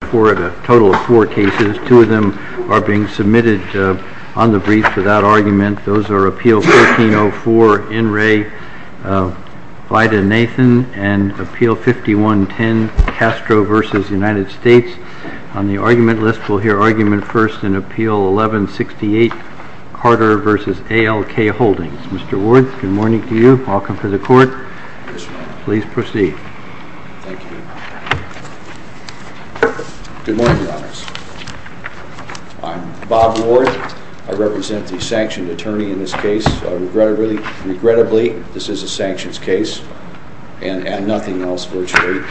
The total of four cases, two of them are being submitted on the brief without argument. Those are Appeal 1304, In re Vida Nathan and Appeal 5110, Castro v. United States. On the argument list, we'll hear argument first in Appeal 1168, Carter v. ALK Holdings. Mr. Ward, good morning to you. Welcome to the court. Please proceed. Good morning, Your Honors. I'm Bob Ward. I represent the sanctioned attorney in this case. Regrettably, this is a sanctions case and nothing else, virtually.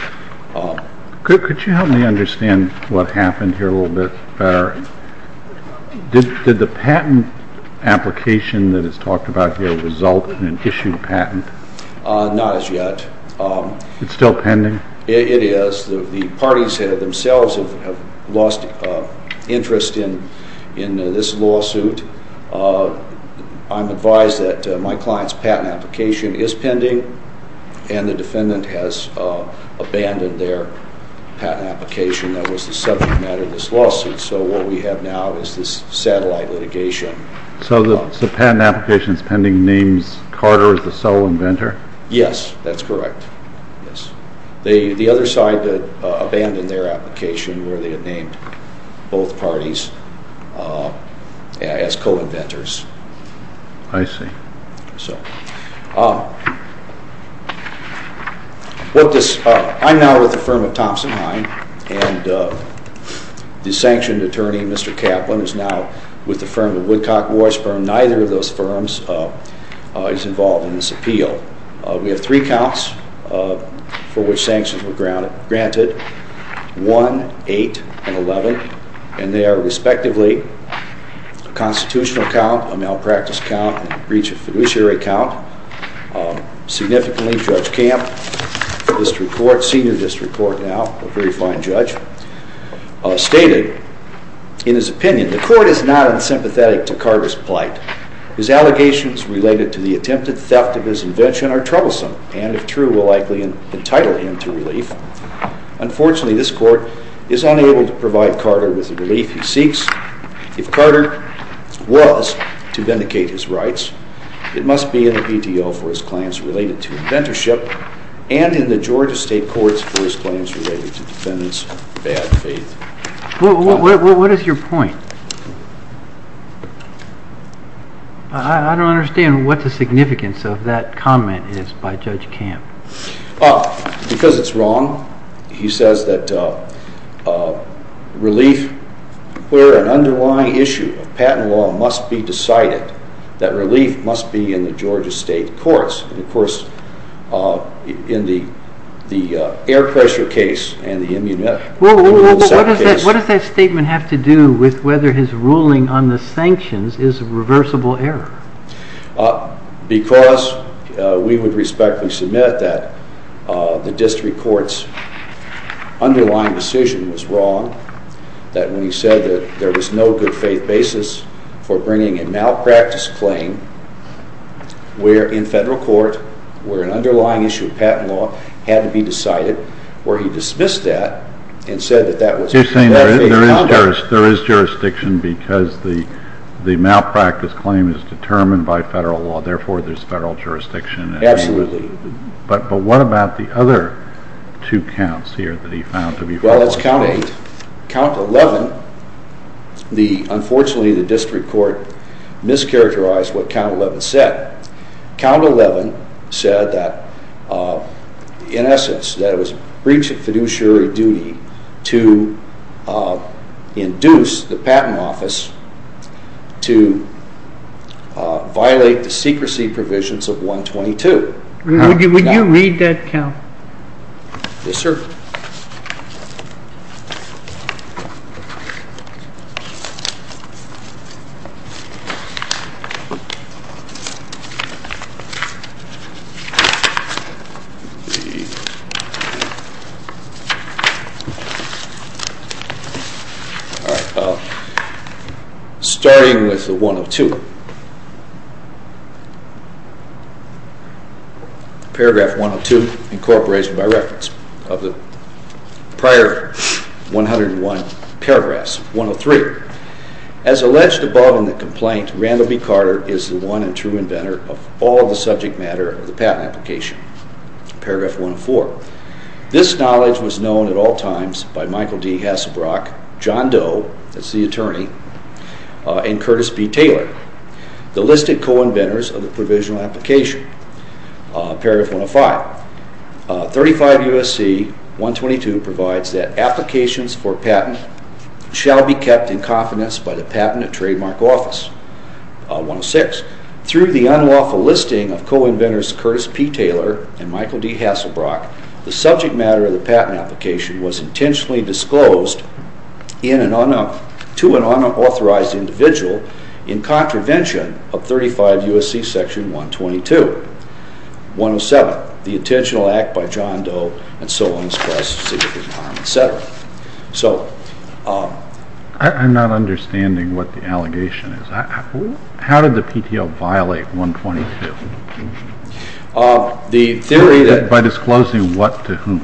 Could you help me understand what happened here a little bit better? Did the patent application that is talked about here result in an issued patent? Not as yet. It's still pending? It is. The parties themselves have lost interest in this lawsuit. I'm advised that my client's patent application is pending, and the defendant has abandoned their patent application that was the subject matter of this lawsuit. So what we have now is this satellite litigation. So the patent application that's pending names Carter as the sole inventor? Yes, that's correct. The other side abandoned their application where they had named both parties as co-inventors. I see. I'm now with the firm of Thompson-Hein, and the sanctioned attorney, Mr. Kaplan, is now with the firm of Woodcock, Washburn. Neither of those firms is involved in this appeal. We have three counts for which sanctions were granted, 1, 8, and 11, and they are respectively a constitutional count, a malpractice count, and a breach of fiduciary count. Significantly, Judge Camp, senior district court now, a very fine judge, stated in his opinion, The court is not unsympathetic to Carter's plight. His allegations related to the attempted theft of his invention are troublesome, Unfortunately, this court is unable to provide Carter with the relief he seeks. If Carter was to vindicate his rights, it must be in the PDO for his claims related to inventorship, and in the Georgia state courts for his claims related to defendants' bad faith. What is your point? I don't understand what the significance of that comment is by Judge Camp. Because it's wrong, he says that relief, where an underlying issue of patent law must be decided, that relief must be in the Georgia state courts. And of course, in the air pressure case and the immunity case... What does that statement have to do with whether his ruling on the sanctions is a reversible error? Because we would respectfully submit that the district court's underlying decision was wrong, that when he said that there was no good faith basis for bringing a malpractice claim, where in federal court, where an underlying issue of patent law had to be decided, where he dismissed that and said that that was... But you're saying there is jurisdiction because the malpractice claim is determined by federal law, therefore there's federal jurisdiction. Absolutely. But what about the other two counts here that he found to be false? Well, it's count 8. Count 11, unfortunately the district court mischaracterized what count 11 said. Count 11 said that, in essence, that it was breach of fiduciary duty to induce the patent office to violate the secrecy provisions of 122. Would you read that count? Yes, sir. All right. Starting with the 102. Paragraph 102, incorporated by reference of the prior 101 paragraphs, 103. As alleged above in the complaint, Randall B. Carter is the one and true inventor of all the subject matter of the patent application. Paragraph 104. This knowledge was known at all times by Michael D. Hasselbrock, John Doe, that's the attorney, and Curtis B. Taylor, the listed co-inventors of the provisional application. Paragraph 105. 35 U.S.C. 122 provides that applications for patent shall be kept in confidence by the patent and trademark office. 106. Through the unlawful listing of co-inventors Curtis P. Taylor and Michael D. Hasselbrock, the subject matter of the patent application was intentionally disclosed to an unauthorized individual in contravention of 35 U.S.C. section 122. 107. The intentional act by John Doe and so on and so forth. I'm not understanding what the allegation is. How did the PTO violate 122? By disclosing what to whom?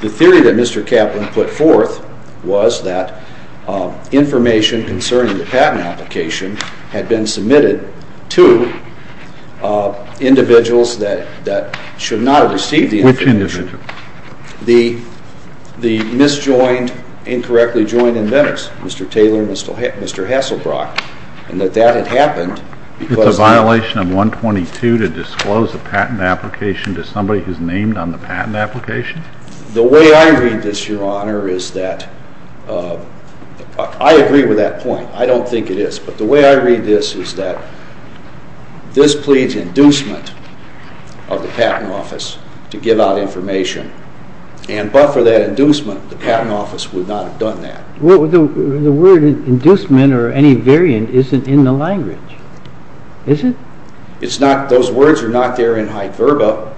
The theory that Mr. Kaplan put forth was that information concerning the patent application had been submitted to individuals that should not have received the information. Which individuals? The mis-joined, incorrectly joined inventors, Mr. Taylor and Mr. Hasselbrock, and that that had happened. It's a violation of 122 to disclose a patent application to somebody who's named on the patent application? The way I read this, Your Honor, is that I agree with that point. I don't think it is, but the way I read this is that this pleads inducement of the Patent Office to give out information, and but for that inducement, the Patent Office would not have done that. The word inducement or any variant isn't in the language, is it? Those words are not there in Hyde-Verba,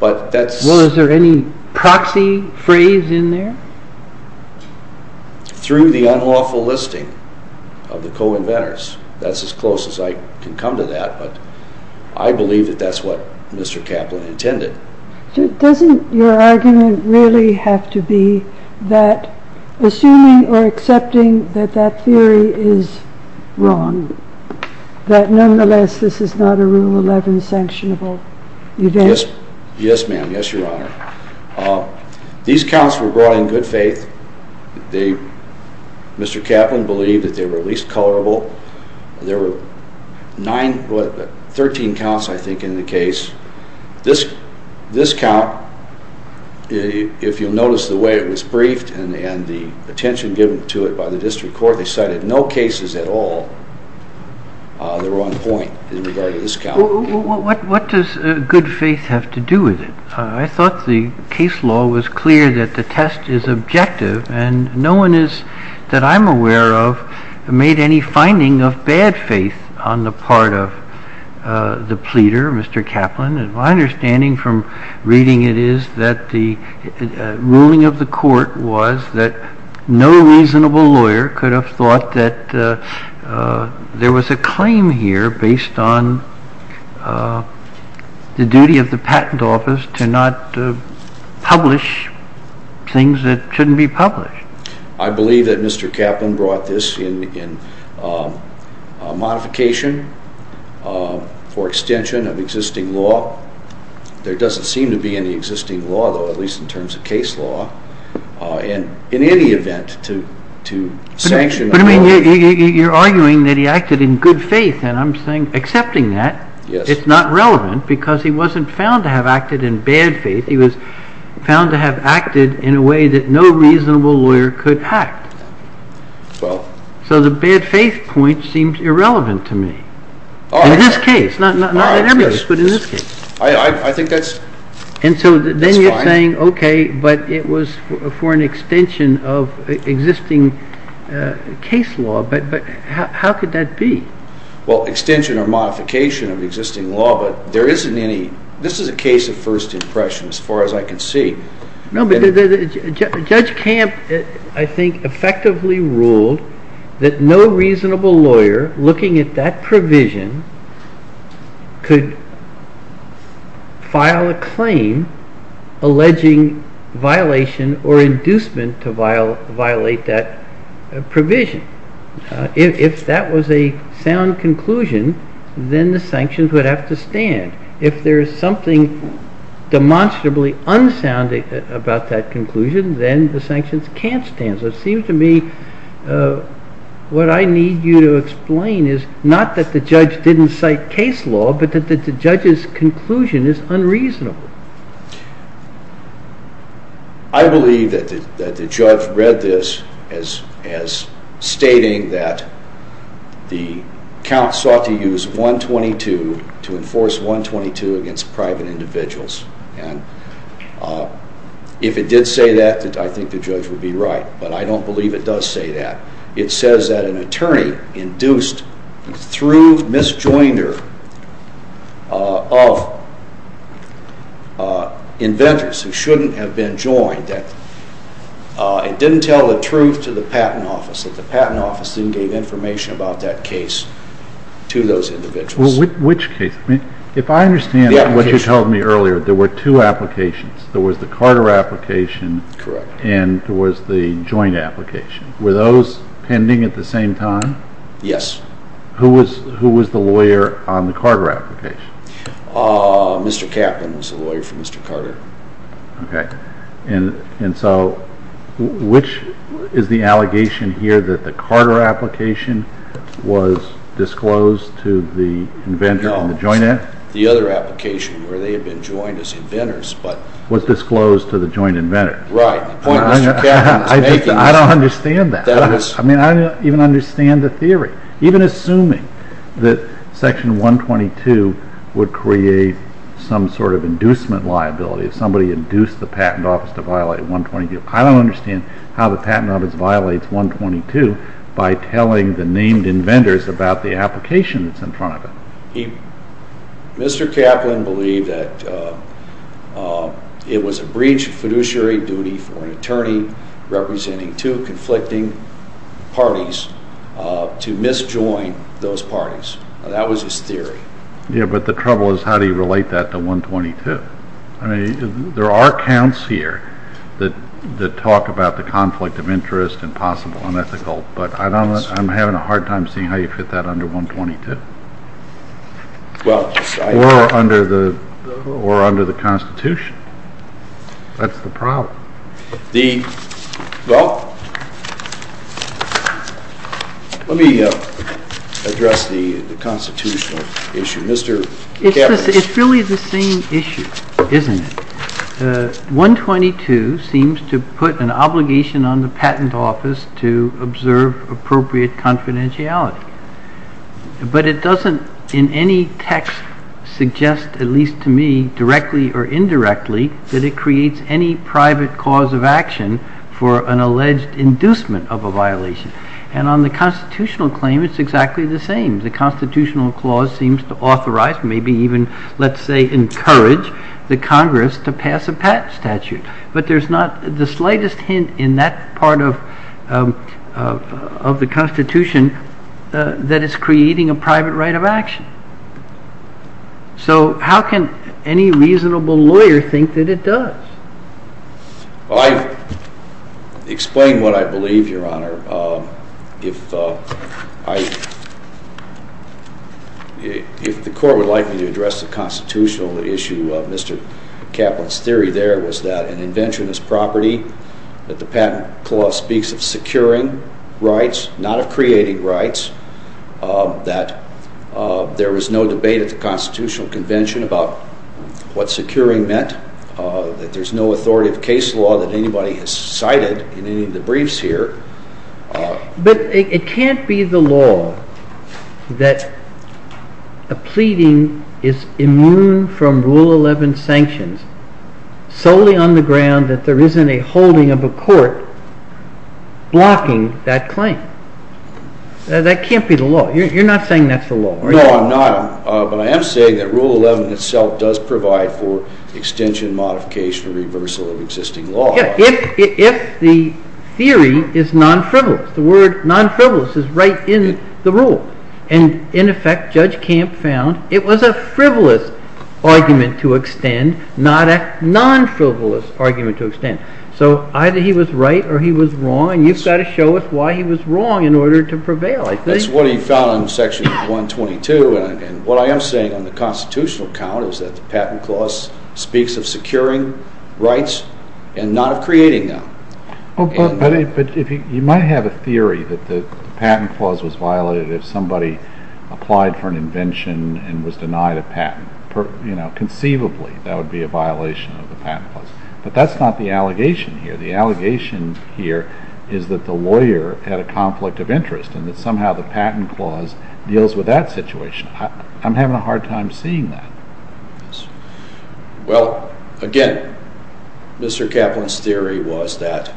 but that's... Well, is there any proxy phrase in there? Through the unlawful listing of the co-inventors. That's as close as I can come to that, but I believe that that's what Mr. Kaplan intended. Doesn't your argument really have to be that assuming or accepting that that theory is wrong, that nonetheless this is not a Rule 11 sanctionable event? Yes, ma'am. Yes, Your Honor. These counts were brought in good faith. Mr. Kaplan believed that they were least colorable. There were 13 counts, I think, in the case. This count, if you'll notice the way it was briefed and the attention given to it by the District Court, they cited no cases at all that were on point in regard to this count. What does good faith have to do with it? I thought the case law was clear that the test is objective, and no one that I'm aware of made any finding of bad faith on the part of the pleader, Mr. Kaplan. My understanding from reading it is that the ruling of the court was that no reasonable lawyer could have thought that there was a claim here based on the duty of the patent office to not publish things that shouldn't be published. I believe that Mr. Kaplan brought this in modification for extension of existing law. There doesn't seem to be any existing law, though, at least in terms of case law. In any event, to sanction a lawyer... But you're arguing that he acted in good faith, and I'm accepting that. It's not relevant because he wasn't found to have acted in bad faith. He was found to have acted in a way that no reasonable lawyer could have. So the bad faith point seems irrelevant to me. In this case, not in every case, but in this case. I think that's fine. And so then you're saying, okay, but it was for an extension of existing case law. But how could that be? Well, extension or modification of existing law, but there isn't any... This is a case of first impression, as far as I can see. No, but Judge Camp, I think, effectively ruled that no reasonable lawyer, looking at that provision, could file a claim alleging violation or inducement to violate that provision. If that was a sound conclusion, then the sanctions would have to stand. If there is something demonstrably unsound about that conclusion, then the sanctions can't stand. So it seems to me what I need you to explain is not that the judge didn't cite case law, but that the judge's conclusion is unreasonable. I believe that the judge read this as stating that the count sought to use 122 to enforce 122 against private individuals. And if it did say that, I think the judge would be right. But I don't believe it does say that. It says that an attorney induced, through misjoinder of inventors who shouldn't have been joined, that it didn't tell the truth to the Patent Office, that the Patent Office didn't give information about that case to those individuals. Which case? If I understand what you told me earlier, there were two applications. There was the Carter application and there was the joint application. Were those pending at the same time? Yes. Who was the lawyer on the Carter application? Okay. And so, which is the allegation here that the Carter application was disclosed to the inventor on the joint application? No. The other application where they had been joined as inventors, but... Was disclosed to the joint inventor. Right. I don't understand that. I mean, I don't even understand the theory. Even assuming that Section 122 would create some sort of inducement liability, if somebody induced the Patent Office to violate 122. I don't understand how the Patent Office violates 122 by telling the named inventors about the application that's in front of it. Mr. Kaplan believed that it was a breach of fiduciary duty for an attorney representing two conflicting parties to misjoin those parties. That was his theory. Yeah, but the trouble is how do you relate that to 122? I mean, there are counts here that talk about the conflict of interest and possible unethical, but I'm having a hard time seeing how you fit that under 122. Or under the Constitution. That's the problem. Well, let me address the constitutional issue. Mr. Kaplan. It's really the same issue, isn't it? 122 seems to put an obligation on the Patent Office to observe appropriate confidentiality. But it doesn't, in any text, suggest, at least to me, directly or indirectly, that it creates any private cause of action for an alleged inducement of a violation. And on the constitutional claim, it's exactly the same. The constitutional clause seems to authorize, maybe even, let's say, encourage, the Congress to pass a patent statute. But there's not the slightest hint in that part of the Constitution that it's creating a private right of action. So how can any reasonable lawyer think that it does? Well, I've explained what I believe, Your Honor. If the Court would like me to address the constitutional issue of Mr. Kaplan's theory there, it was that an invention is property, that the patent clause speaks of securing rights, not of creating rights, that there was no debate at the Constitutional Convention about what securing meant, that there's no authoritative case law that anybody has cited in any of the briefs here. But it can't be the law that a pleading is immune from Rule 11 sanctions solely on the ground that there isn't a holding of a court blocking that claim. That can't be the law. You're not saying that's the law, are you? No, I'm not. But I am saying that Rule 11 itself does provide for extension, modification, or reversal of existing law. Yeah, if the theory is non-frivolous, the word non-frivolous is right in the rule. And, in effect, Judge Camp found it was a frivolous argument to extend, not a non-frivolous argument to extend. So either he was right or he was wrong, and you've got to show us why he was wrong in order to prevail, I think. That's what he found in Section 122. And what I am saying on the Constitutional count is that the patent clause speaks of securing rights and not of creating them. But you might have a theory that the patent clause was violated if somebody applied for an invention and was denied a patent. Conceivably, that would be a violation of the patent clause. But that's not the allegation here. The allegation here is that the lawyer had a conflict of interest and that somehow the patent clause deals with that situation. I'm having a hard time seeing that. Well, again, Mr. Kaplan's theory was that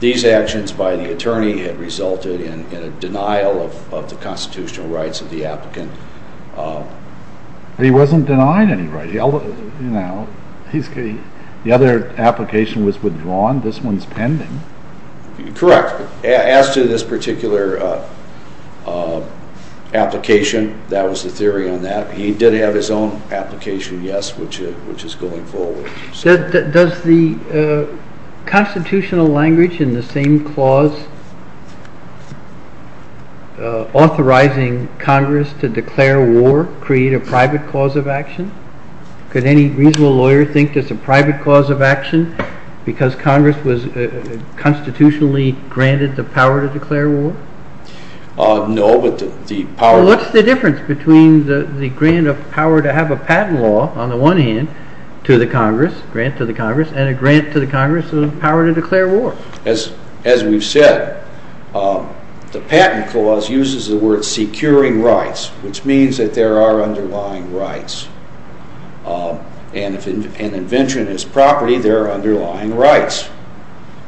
these actions by the attorney had resulted in a denial of the constitutional rights of the applicant. He wasn't denied any rights. The other application was withdrawn. This one's pending. Correct. As to this particular application, that was the theory on that. He did have his own application, yes, which is going forward. Does the constitutional language in the same clause authorizing Congress to declare war create a private cause of action? Could any reasonable lawyer think there's a private cause of action because Congress was constitutionally granted the power to declare war? No, but the power… …and a grant to the Congress of the power to declare war. As we've said, the patent clause uses the word securing rights, which means that there are underlying rights. And if an invention is property, there are underlying rights.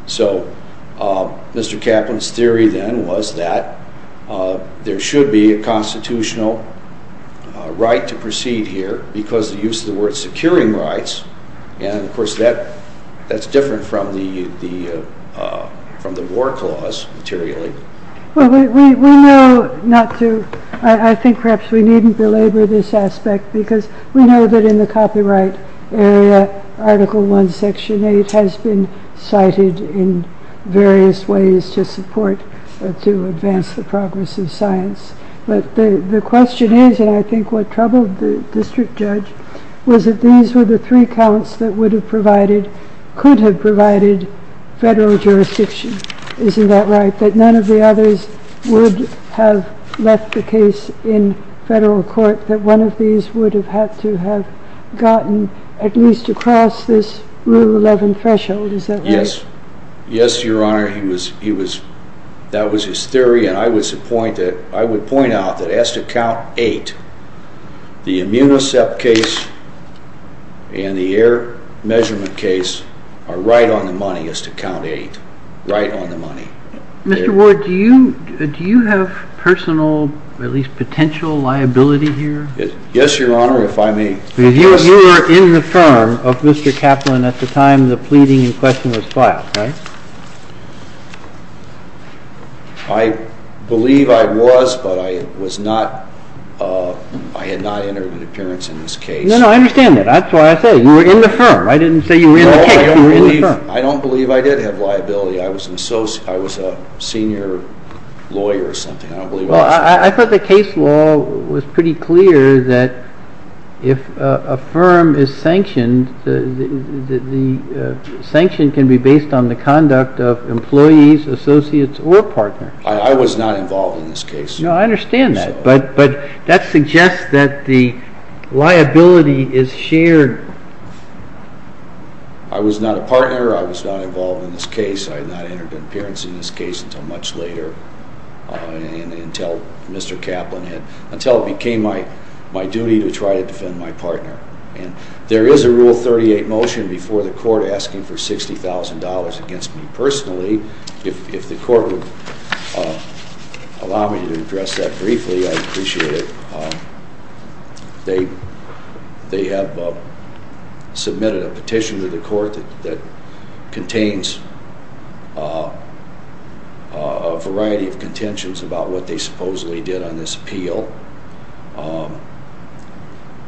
So Mr. Kaplan's theory then was that there should be a constitutional right to proceed here because of the use of the word securing rights. And, of course, that's different from the war clause materially. I think perhaps we needn't belabor this aspect because we know that in the copyright area, Article I, Section 8 has been cited in various ways to support, to advance the progress of science. But the question is, and I think what troubled the district judge, was that these were the three counts that could have provided federal jurisdiction. Isn't that right? That none of the others would have left the case in federal court, that one of these would have had to have gotten at least across this Rule 11 threshold. Is that right? Yes. Yes, Your Honor. That was his theory, and I would point out that as to Count 8, the Immunicept case and the Air Measurement case are right on the money as to Count 8. Right on the money. Mr. Ward, do you have personal, at least potential, liability here? Yes, Your Honor, if I may. Because you were in the firm of Mr. Kaplan at the time the pleading in question was filed, right? I believe I was, but I had not entered an appearance in this case. No, no, I understand that. That's why I said you were in the firm. I didn't say you were in the case, you were in the firm. I don't believe I did have liability. I was a senior lawyer or something. I don't believe I was. Well, I thought the case law was pretty clear that if a firm is sanctioned, the sanction can be based on the conduct of employees, associates, or partners. I was not involved in this case. No, I understand that. But that suggests that the liability is shared. I was not a partner. I was not involved in this case. I had not entered an appearance in this case until much later, until Mr. Kaplan had, until it became my duty to try to defend my partner. And there is a Rule 38 motion before the court asking for $60,000 against me personally. If the court would allow me to address that briefly, I'd appreciate it. They have submitted a petition to the court that contains a variety of contentions about what they supposedly did on this appeal.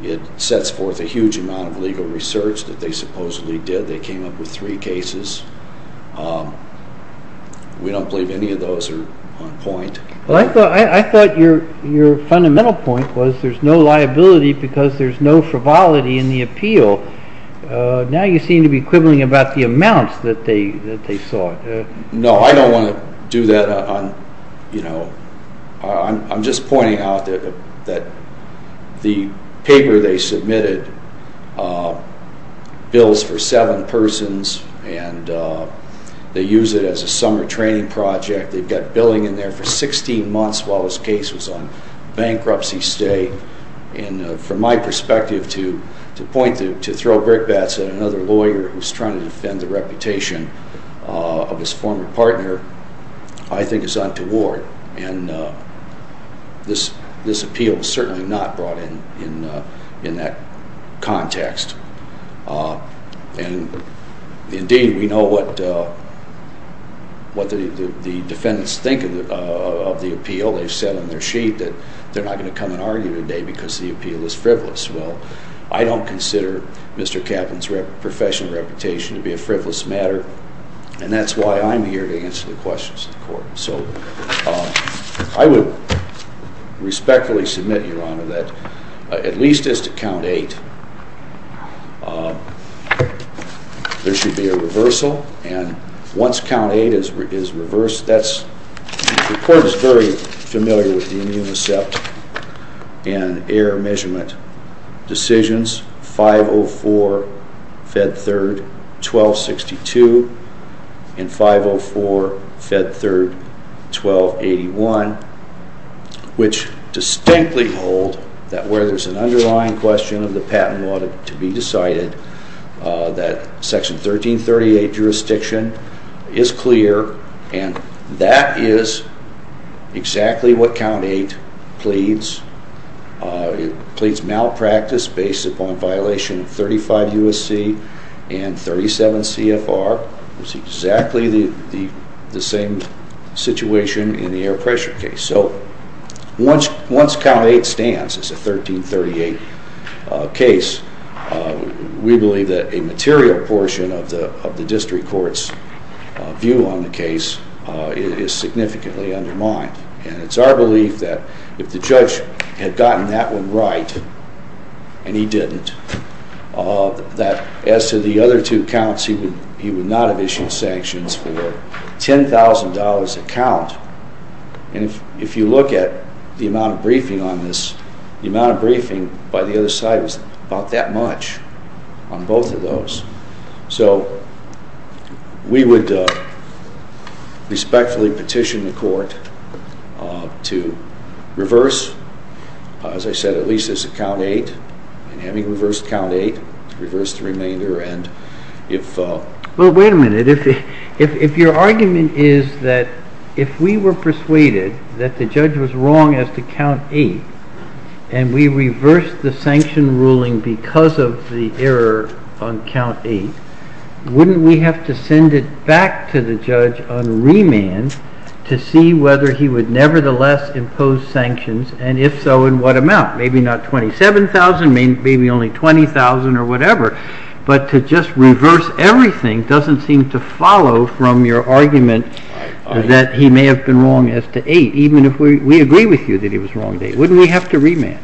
It sets forth a huge amount of legal research that they supposedly did. They came up with three cases. We don't believe any of those are on point. Well, I thought your fundamental point was there's no liability because there's no frivolity in the appeal. Now you seem to be quibbling about the amounts that they sought. No, I don't want to do that. You know, I'm just pointing out that the paper they submitted bills for seven persons, and they use it as a summer training project. They've got billing in there for 16 months while this case was on bankruptcy stay. And from my perspective, to point to throw brick bats at another lawyer who's trying to defend the reputation of his former partner, I think it's untoward, and this appeal is certainly not brought in in that context. And indeed, we know what the defendants think of the appeal. They've said on their sheet that they're not going to come and argue today because the appeal is frivolous. Well, I don't consider Mr. Kaplan's professional reputation to be a frivolous matter, and that's why I'm here to answer the questions of the court. So I would respectfully submit, Your Honor, that at least as to count eight, there should be a reversal. And once count eight is reversed, that's—the court is very familiar with the unicept and error measurement decisions. 504, Fed 3rd, 1262, and 504, Fed 3rd, 1281, which distinctly hold that where there's an underlying question of the patent law to be decided, that Section 1338 jurisdiction is clear, and that is exactly what count eight pleads. It pleads malpractice based upon violation of 35 U.S.C. and 37 CFR. It's exactly the same situation in the air pressure case. So once count eight stands, it's a 1338 case, we believe that a material portion of the district court's view on the case is significantly undermined. And it's our belief that if the judge had gotten that one right, and he didn't, that as to the other two counts, he would not have issued sanctions for $10,000 a count. And if you look at the amount of briefing on this, the amount of briefing by the other side was about that much on both of those. So we would respectfully petition the court to reverse, as I said, at least as to count eight, and having reversed count eight, to reverse the remainder, and if... Well, wait a minute. If your argument is that if we were persuaded that the judge was wrong as to count eight, and we reversed the sanction ruling because of the error on count eight, wouldn't we have to send it back to the judge on remand to see whether he would nevertheless impose sanctions, and if so, in what amount? Maybe not $27,000, maybe only $20,000 or whatever, but to just reverse everything doesn't seem to follow from your argument that he may have been wrong as to eight, even if we agree with you that he was wrong to eight. Wouldn't we have to remand?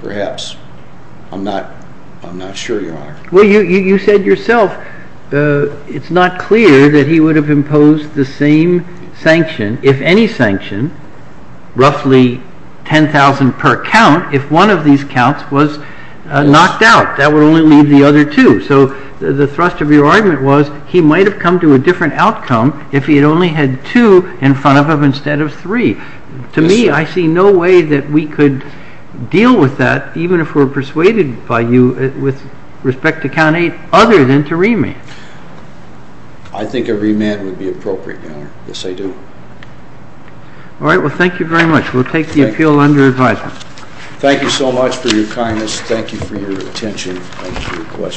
Perhaps. I'm not sure, Your Honor. Well, you said yourself it's not clear that he would have imposed the same sanction, if any sanction, roughly $10,000 per count, if one of these counts was knocked out. That would only leave the other two. So the thrust of your argument was he might have come to a different outcome if he had only had two in front of him instead of three. To me, I see no way that we could deal with that, even if we were persuaded by you with respect to count eight, other than to remand. I think a remand would be appropriate, Your Honor. Yes, I do. All right. Well, thank you very much. We'll take the appeal under advisement. Thank you so much for your kindness. Thank you for your attention. Thank you for your questions.